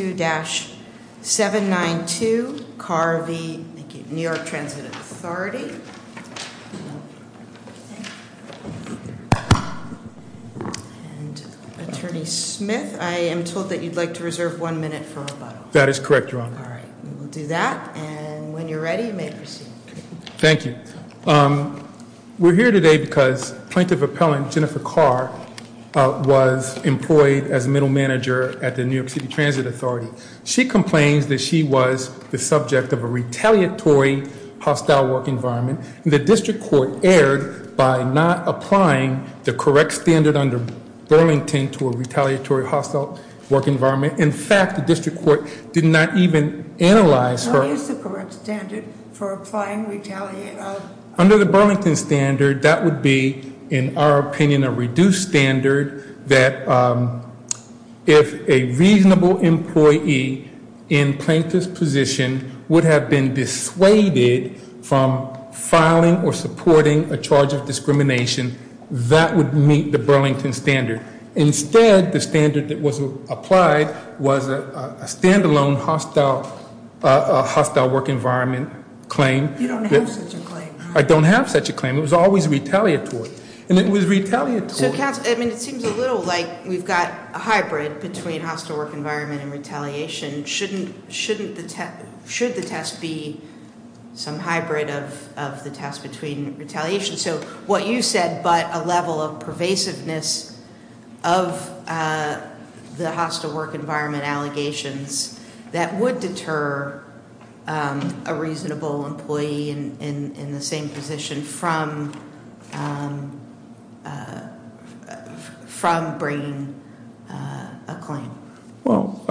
And Attorney Smith, I am told that you'd like to reserve one minute for rebuttal. That is correct, Your Honor. All right, we will do that, and when you're ready, you may proceed. Thank you, we're here today because Plaintiff Appellant Jennifer Carr was employed as middle manager at the New York City Transit Authority. She complains that she was the subject of a retaliatory hostile work environment. The district court erred by not applying the correct standard under Burlington to a retaliatory hostile work environment. In fact, the district court did not even analyze her- What is the correct standard for applying retaliation? Under the Burlington standard, that would be, in our opinion, a reduced standard that if a reasonable employee in plaintiff's position would have been dissuaded from filing or supporting a charge of discrimination, that would meet the Burlington standard. Instead, the standard that was applied was a standalone hostile work environment claim. You don't have such a claim. I don't have such a claim. It was always retaliatory, and it was retaliatory. So, counsel, I mean, it seems a little like we've got a hybrid between hostile work environment and retaliation. Shouldn't the test, should the test be some hybrid of the test between retaliation? So, what you said, but a level of pervasiveness of the hostile work environment allegations that would deter a reasonable employee in the same position from bringing a claim. Well,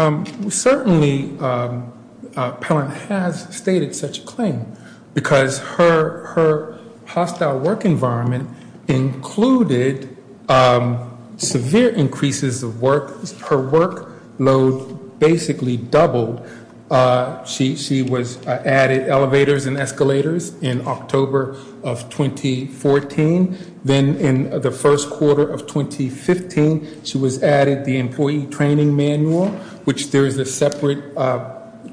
certainly, Pellant has stated such a claim. Because her hostile work environment included severe increases of work, her work load basically doubled. She was added elevators and escalators in October of 2014. Then in the first quarter of 2015, she was added the employee training manual, which there is a separate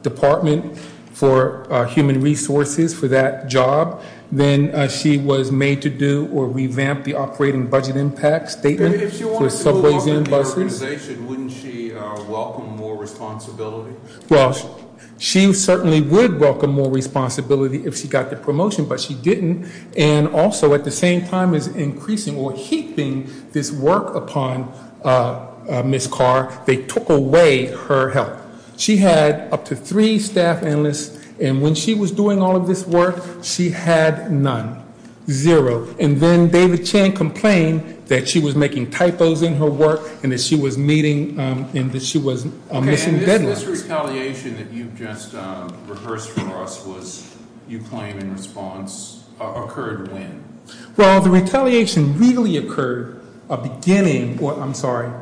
department for human resources for that job. Then she was made to do or revamp the operating budget impact statement. And if she wanted to move on to the organization, wouldn't she welcome more responsibility? Well, she certainly would welcome more responsibility if she got the promotion, but she didn't. And also, at the same time as increasing or heaping this work upon Ms. Carr, they took away her help. She had up to three staff analysts, and when she was doing all of this work, she had none. Zero. And then David Chang complained that she was making typos in her work, and that she was meeting, and that she was missing deadlines. This retaliation that you just rehearsed for us was, you claim in response, occurred when? Well, the retaliation really occurred beginning, or I'm sorry,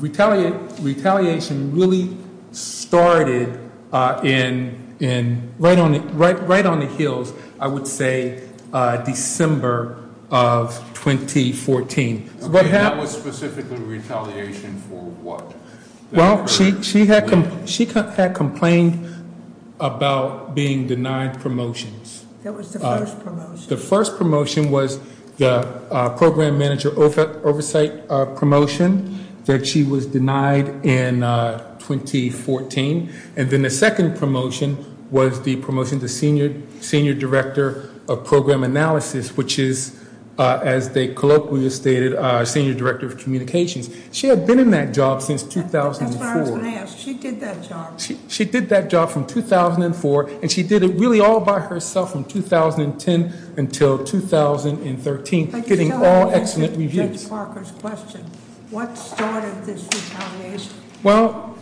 retaliation really started in, right on the heels, I would say, December of 2014. Okay, that was specifically retaliation for what? Well, she had complained about being denied promotions. That was the first promotion. The first promotion was the Program Manager Oversight promotion that she was denied in 2014. And then the second promotion was the promotion to Senior Director of Program Analysis, which is, as they colloquially stated, Senior Director of Communications. She had been in that job since 2004. That's what I was going to ask. She did that job. From 2004. And she did it really all by herself from 2010 until 2013, getting all excellent reviews. But you still haven't answered Judge Parker's question. What started this retaliation? Well,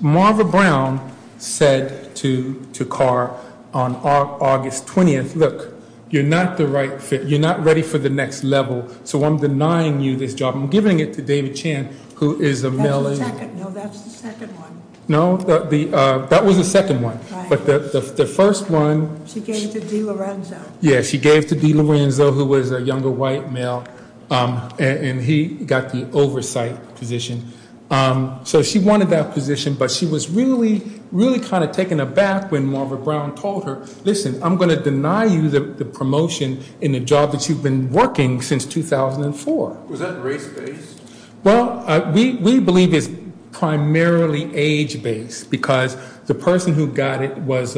Marva Brown said to Carr on August 20th, look, you're not the right fit. You're not ready for the next level. So I'm denying you this job. I'm giving it to David Chan, who is a male. That's the second. No, that's the second one. No, that was the second one. But the first one. She gave it to Dee Lorenzo. Yeah, she gave it to Dee Lorenzo, who was a younger white male. And he got the oversight position. So she wanted that position. But she was really, really kind of taken aback when Marva Brown told her, listen, I'm going to deny you the promotion in the job that you've been working since 2004. Was that race-based? Well, we believe it's primarily age-based. Because the person who got it was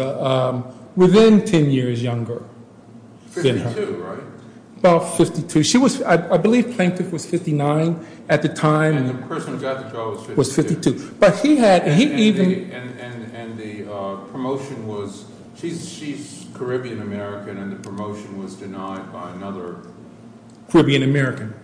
within 10 years younger than her. 52, right? About 52. She was, I believe Plaintiff was 59 at the time. And the person who got the job was 52. But he had, he even. And the promotion was, she's Caribbean American. And the promotion was denied by another. Caribbean American.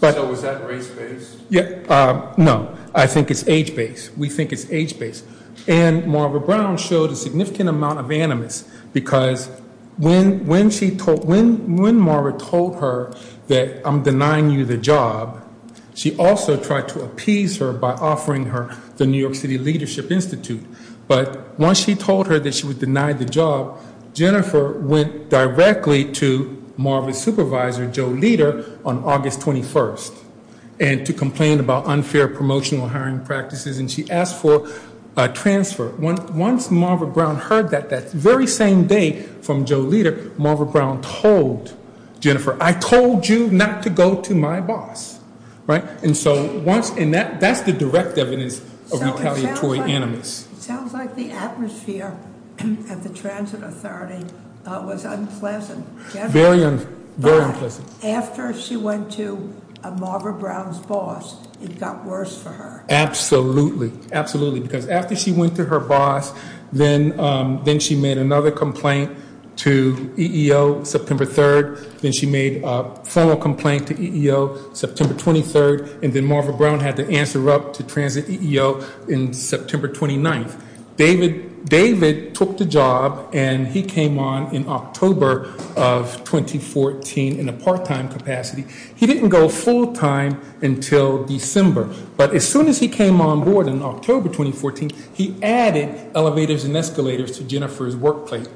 So was that race-based? Yeah, no. I think it's age-based. We think it's age-based. And Marva Brown showed a significant amount of animus. Because when Marva told her that I'm denying you the job, she also tried to appease her by offering her the New York City Leadership Institute. But once she told her that she was denied the job, Jennifer went directly to Marva's supervisor, Joe Leder, on August 21st. And to complain about unfair promotional hiring practices. And she asked for a transfer. Once Marva Brown heard that, that very same day from Joe Leder, Marva Brown told Jennifer, I told you not to go to my boss. Right? And so once, and that's the direct evidence of retaliatory animus. Sounds like the atmosphere at the Transit Authority was unpleasant. Very unpleasant. After she went to Marva Brown's boss, it got worse for her. Absolutely. Absolutely. Because after she went to her boss, then she made another complaint to EEO September 3rd. Then she made a formal complaint to EEO September 23rd. And then Marva Brown had to answer up to Transit EEO in September 29th. David took the job and he came on in October of 2014 in a part-time capacity. He didn't go full-time until December. But as soon as he came on board in October 2014, he added elevators and escalators to Jennifer's workplace.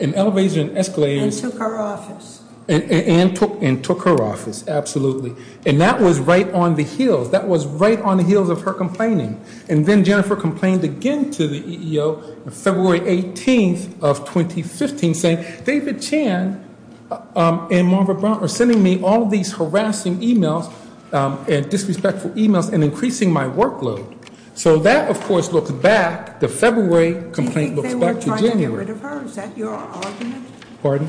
And elevators and escalators. And took her office. And took her office. Absolutely. And that was right on the heels. That was right on the heels of her complaining. And then Jennifer complained again to the EEO on February 18th of 2015. Saying, David Chan and Marva Brown are sending me all these harassing emails. And disrespectful emails. And increasing my workload. So that, of course, looks back. The February complaint looks back to January. Pardon?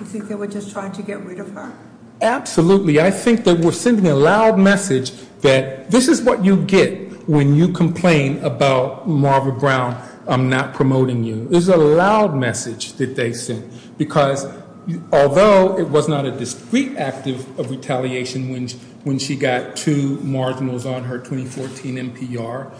You think they were just trying to get rid of her? Absolutely. I think they were sending a loud message that this is what you get when you complain about Marva Brown not promoting you. It was a loud message that they sent. Because although it was not a discreet act of retaliation when she got two marginals on her 2014 NPR.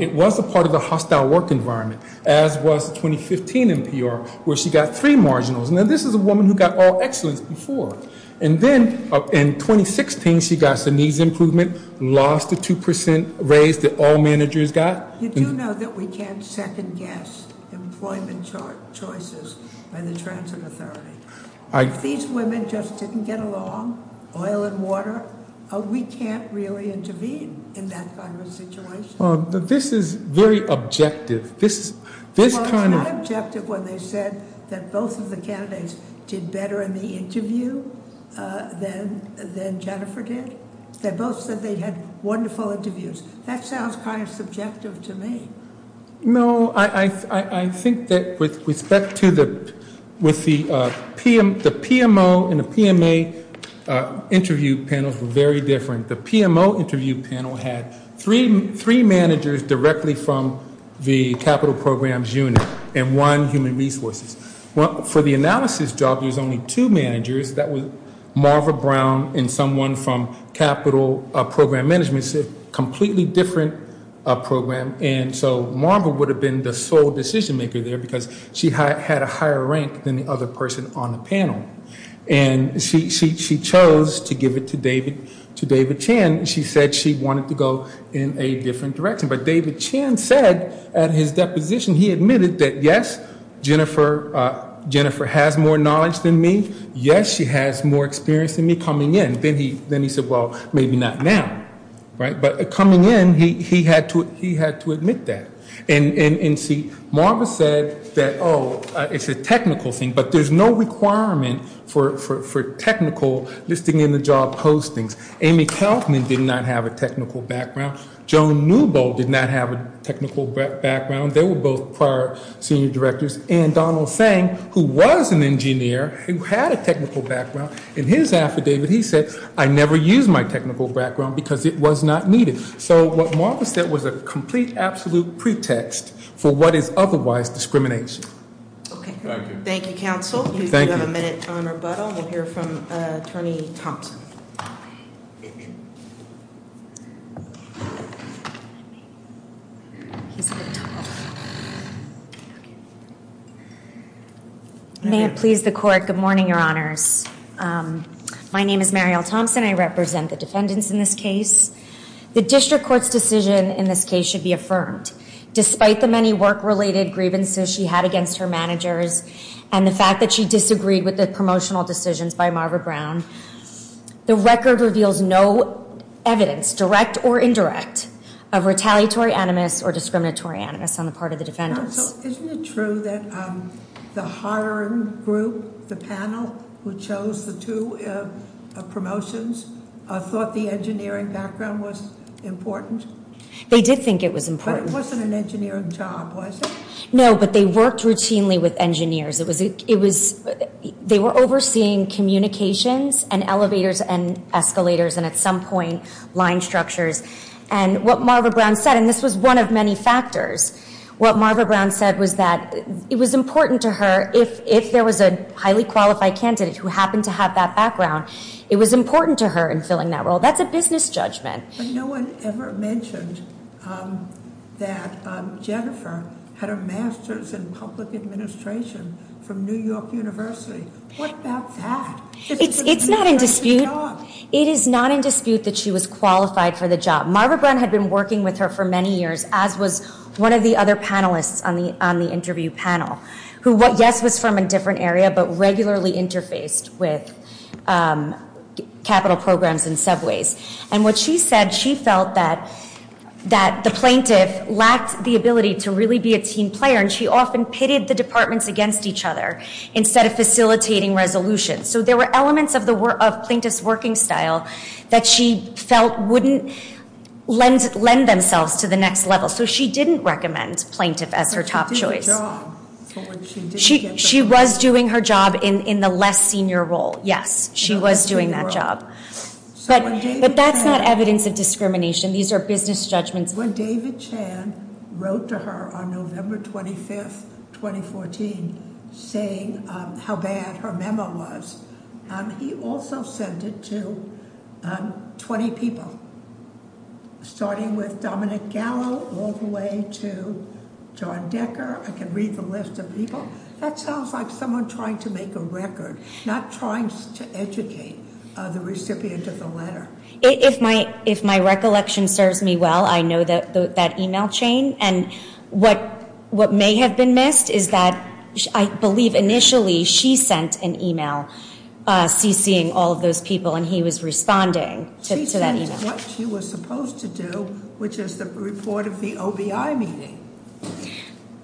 It was a part of the hostile work environment. As was the 2015 NPR. Where she got three marginals. Now this is a woman who got all excellence before. And then in 2016, she got some needs improvement. Lost the 2% raise that all managers got. You do know that we can't second guess employment choices by the transit authority. If these women just didn't get along, oil and water, we can't really intervene in that kind of situation. This is very objective. This kind of- Than Jennifer did? They both said they had wonderful interviews. That sounds kind of subjective to me. No, I think that with respect to the PMO and the PMA interview panels were very different. The PMO interview panel had three managers directly from the capital programs unit. And one human resources. For the analysis job, there's only two managers. That was Marva Brown and someone from capital program management. It's a completely different program. And so Marva would have been the sole decision maker there. Because she had a higher rank than the other person on the panel. And she chose to give it to David Chan. She said she wanted to go in a different direction. But David Chan said at his deposition, he admitted that, yes, Jennifer has more knowledge than me. Yes, she has more experience than me coming in. Then he said, well, maybe not now. But coming in, he had to admit that. And see, Marva said that, oh, it's a technical thing. But there's no requirement for technical listing in the job postings. Amy Kaufman did not have a technical background. Joan Newbold did not have a technical background. They were both prior senior directors. And Donald Fang, who was an engineer, who had a technical background. In his affidavit, he said, I never used my technical background because it was not needed. So what Marva said was a complete, absolute pretext for what is otherwise discrimination. Okay. Thank you, counsel. You do have a minute on rebuttal. We'll hear from attorney Thompson. I may. He's a bit tall. May it please the court. Good morning, your honors. My name is Mariel Thompson. I represent the defendants in this case. The district court's decision in this case should be affirmed. Despite the many work-related grievances she had against her managers and the fact that she disagreed with the promotional decisions by Marva Brown, the record reveals no evidence, direct or indirect, of retaliatory animus or discriminatory animus on the part of the defendants. Counsel, isn't it true that the hiring group, the panel, who chose the two promotions, thought the engineering background was important? They did think it was important. But it wasn't an engineering job, was it? No, but they worked routinely with engineers. They were overseeing communications and elevators and escalators. And at some point, line structures. And what Marva Brown said, and this was one of many factors, what Marva Brown said was that it was important to her if there was a highly qualified candidate who happened to have that background. It was important to her in filling that role. That's a business judgment. But no one ever mentioned that Jennifer had a master's in public administration from New York University. What about that? It's not in dispute. It is not in dispute that she was qualified for the job. Marva Brown had been working with her for many years, as was one of the other panelists on the interview panel. Who, yes, was from a different area, but regularly interfaced with capital programs and subways. And what she said, she felt that the plaintiff lacked the ability to really be a team player. And she often pitted the departments against each other instead of facilitating resolutions. So there were elements of plaintiff's working style that she felt wouldn't lend themselves to the next level. So she didn't recommend plaintiff as her top choice. But she did her job for which she didn't get the role. She was doing her job in the less senior role, yes. She was doing that job. But that's not evidence of discrimination. These are business judgments. When David Chan wrote to her on November 25th, 2014, saying how bad her memo was, he also sent it to 20 people, starting with Dominic Gallo all the way to John Decker. I can read the list of people. That sounds like someone trying to make a record, not trying to educate the recipient of the letter. If my recollection serves me well, I know that email chain. And what may have been missed is that, I believe initially, she sent an email CC'ing all of those people, and he was responding to that email. She sent what she was supposed to do, which is the report of the OBI meeting.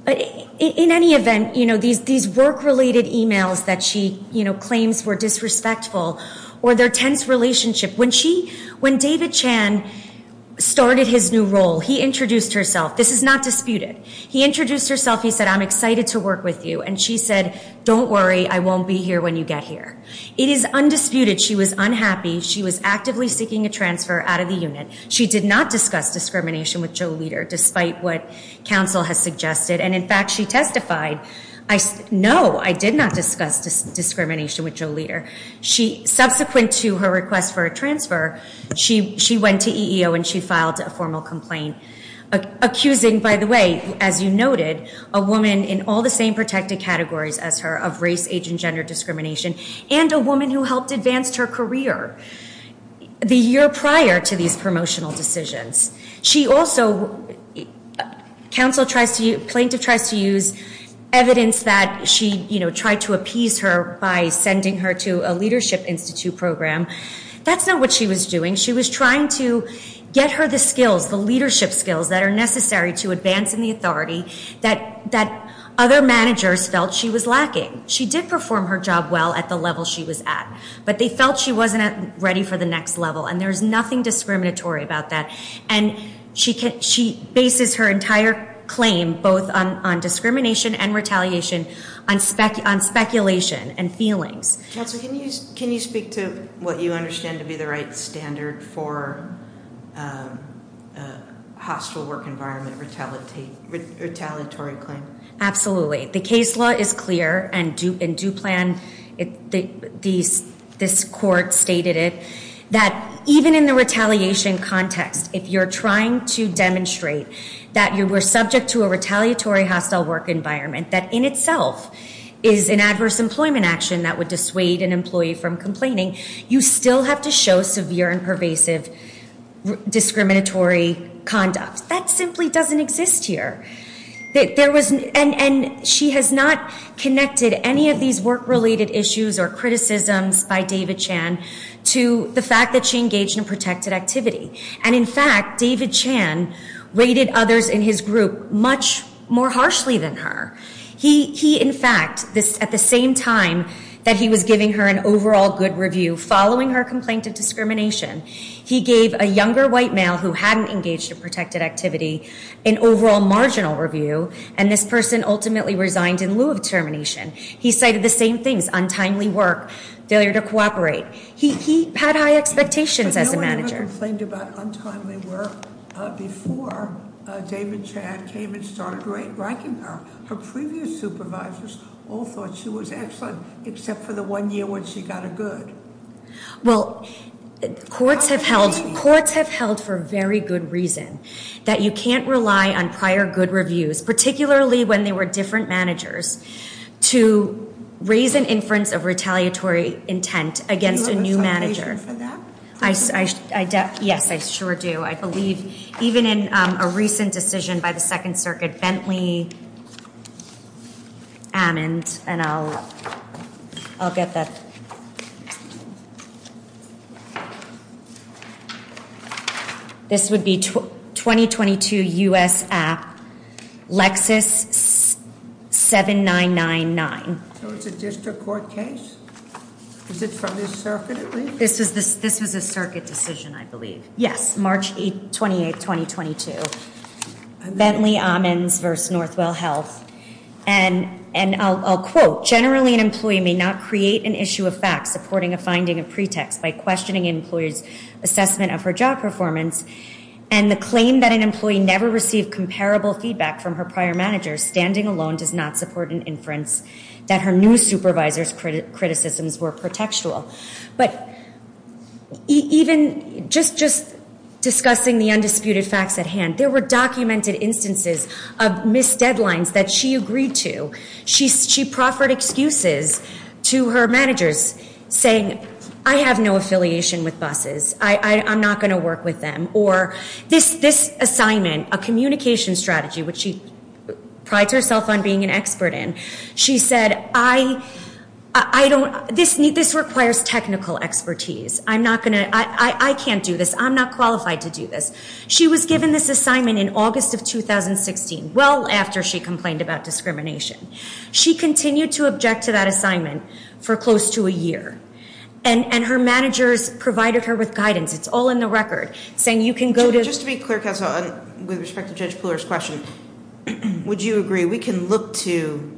In any event, these work-related emails that she claims were disrespectful, or their tense relationship. When David Chan started his new role, he introduced herself. This is not disputed. He introduced herself. He said, I'm excited to work with you. And she said, don't worry. I won't be here when you get here. It is undisputed she was unhappy. She was actively seeking a transfer out of the unit. She did not discuss discrimination with Joe Leder, despite what counsel has suggested. And in fact, she testified, no, I did not discuss discrimination with Joe Leder. Subsequent to her request for a transfer, she went to EEO and she filed a formal complaint. Accusing, by the way, as you noted, a woman in all the same protected categories as her, of race, age, and gender discrimination. And a woman who helped advance her career the year prior to these promotional decisions. She also, counsel tries to, plaintiff tries to use evidence that she, you know, tried to appease her by sending her to a leadership institute program. That's not what she was doing. She was trying to get her the skills, the leadership skills that are necessary to advance in the authority that other managers felt she was lacking. She did perform her job well at the level she was at. But they felt she wasn't ready for the next level. And there's nothing discriminatory about that. And she bases her entire claim, both on discrimination and retaliation, on speculation and feelings. Counsel, can you speak to what you understand to be the right standard for hostile work environment retaliatory claim? Absolutely. The case law is clear. And Duplan, this court stated it, that even in the retaliation context, if you're trying to demonstrate that you were subject to a retaliatory hostile work environment that in itself is an adverse employment action that would dissuade an employee from complaining, you still have to show severe and pervasive discriminatory conduct. That simply doesn't exist here. And she has not connected any of these work-related issues or criticisms by David Chan to the fact that she engaged in protected activity. And in fact, David Chan rated others in his group much more harshly than her. He, in fact, at the same time that he was giving her an overall good review following her complaint of discrimination, he gave a younger white male who hadn't engaged in review and this person ultimately resigned in lieu of termination. He cited the same things, untimely work, failure to cooperate. He had high expectations as a manager. But no one ever complained about untimely work before David Chan came and started ranking her. Her previous supervisors all thought she was excellent except for the one year when she got a good. Well, courts have held for very good reason. That you can't rely on prior good reviews, particularly when they were different managers, to raise an inference of retaliatory intent against a new manager. Do you have an explanation for that? Yes, I sure do. I believe even in a recent decision by the Second Circuit, Bentley, Ammons, and I'll get that. This would be 2022 U.S. App, Lexis 7999. So it's a district court case? Is it from the circuit at least? This was a circuit decision, I believe. Yes, March 28th, 2022. Bentley, Ammons v. Northwell Health. And I'll quote, generally an employee may not create an issue of fact supporting a finding of pretext by questioning an employee's assessment of her job performance. And the claim that an employee never received comparable feedback from her prior manager standing alone does not support an inference that her new supervisor's criticisms were pretextual. But even just discussing the undisputed facts at hand, there were documented instances of missed deadlines that she agreed to. She proffered excuses to her managers saying, I have no affiliation with buses. I'm not going to work with them. Or this assignment, a communication strategy, which she prides herself on being an expert in, she said, I don't, this requires technical expertise. I'm not going to, I can't do this. I'm not qualified to do this. She was given this assignment in August of 2016, well after she complained about discrimination. She continued to object to that assignment for close to a year. And her managers provided her with guidance. It's all in the record, saying you can go to- Just to be clear, counsel, with respect to Judge Pooler's question, would you agree we can look to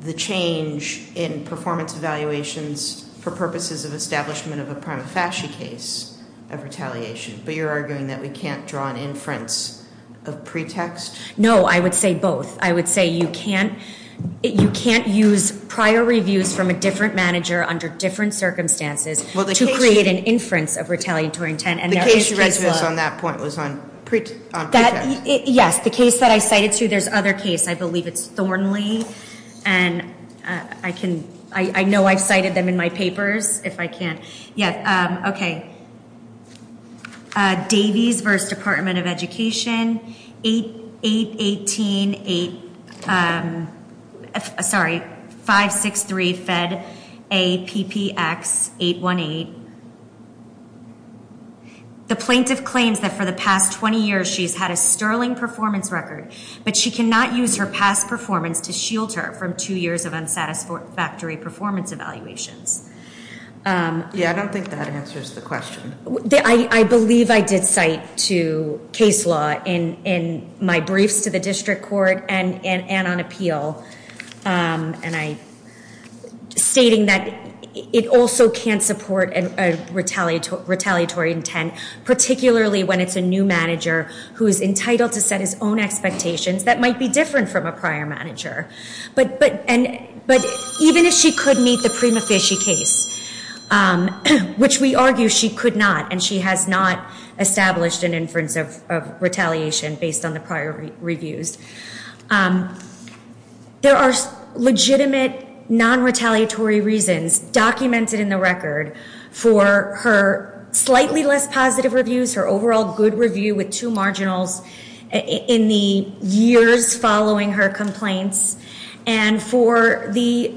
the change in performance evaluations for purposes of establishment of a prima facie case of retaliation, but you're arguing that we can't draw an inference of pretext? No, I would say both. I would say you can't, you can't use prior reviews from a different manager under different circumstances to create an inference of retaliatory intent. The case she raised on that point was on pretext. Yes, the case that I cited too, there's other case, I believe it's Thornley. And I can, I know I've cited them in my papers, if I can. Yeah, okay. Davies v. Department of Education, 818-8, sorry, 563-FED-A-PPX-818. The plaintiff claims that for the past 20 years, she's had a sterling performance record, but she cannot use her past performance to shield her from two years of unsatisfactory performance evaluations. Yeah, I don't think that answers the question. I believe I did cite to case law in my briefs to the district court and on appeal, and I, stating that it also can't support a retaliatory intent, particularly when it's a new manager who is entitled to set his own expectations that might be different from a prior manager. But even if she could meet the prima facie case, which we argue she could not, and she has not established an inference of retaliation based on the prior reviews. There are legitimate non-retaliatory reasons documented in the record for her slightly less positive reviews, her overall good review with two marginals in the years following her complaints, and for the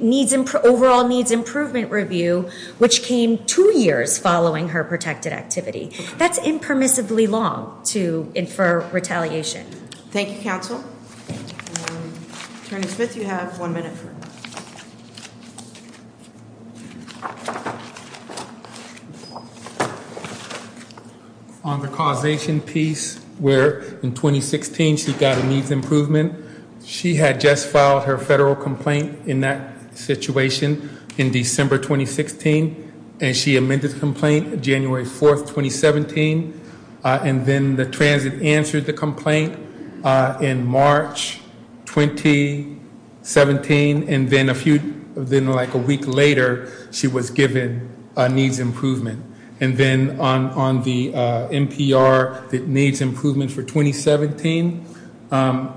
overall needs improvement review, which came two years following her protected activity. That's impermissibly long to infer retaliation. Thank you, counsel. Attorney Smith, you have one minute. On the causation piece, where in 2016 she got a needs improvement, she had just filed her federal complaint in that situation in December 2016, and she amended the complaint January 4th, 2017, and then the transit answered the complaint in March 2017, and then a week later she was given a needs improvement. And then on the NPR that needs improvement for 2017,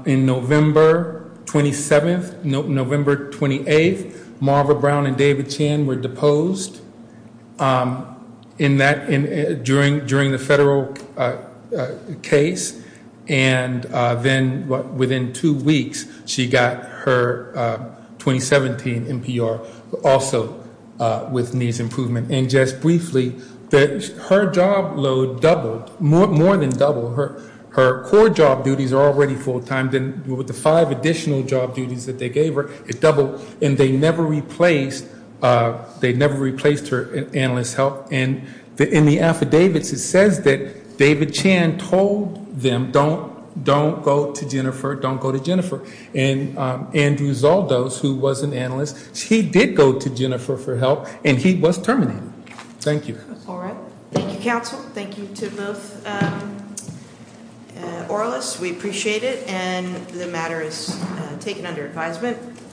in November 27th, November 28th, Marva Brown and David Chan were deposed during the federal case, and then within two weeks she got her 2017 NPR also with needs improvement. And just briefly, her job load doubled, more than doubled. Her core job duties are already full-time, then with the five additional job duties that they gave her, it doubled, and they never replaced her analyst help. And in the affidavits, it says that David Chan told them, don't go to Jennifer, don't go to Jennifer. And Andrew Zaldos, who was an analyst, he did go to Jennifer for help, and he was terminated. Thank you. That's all right. Thank you, counsel. Thank you to both oralists. We appreciate it, and the matter is taken under advisement.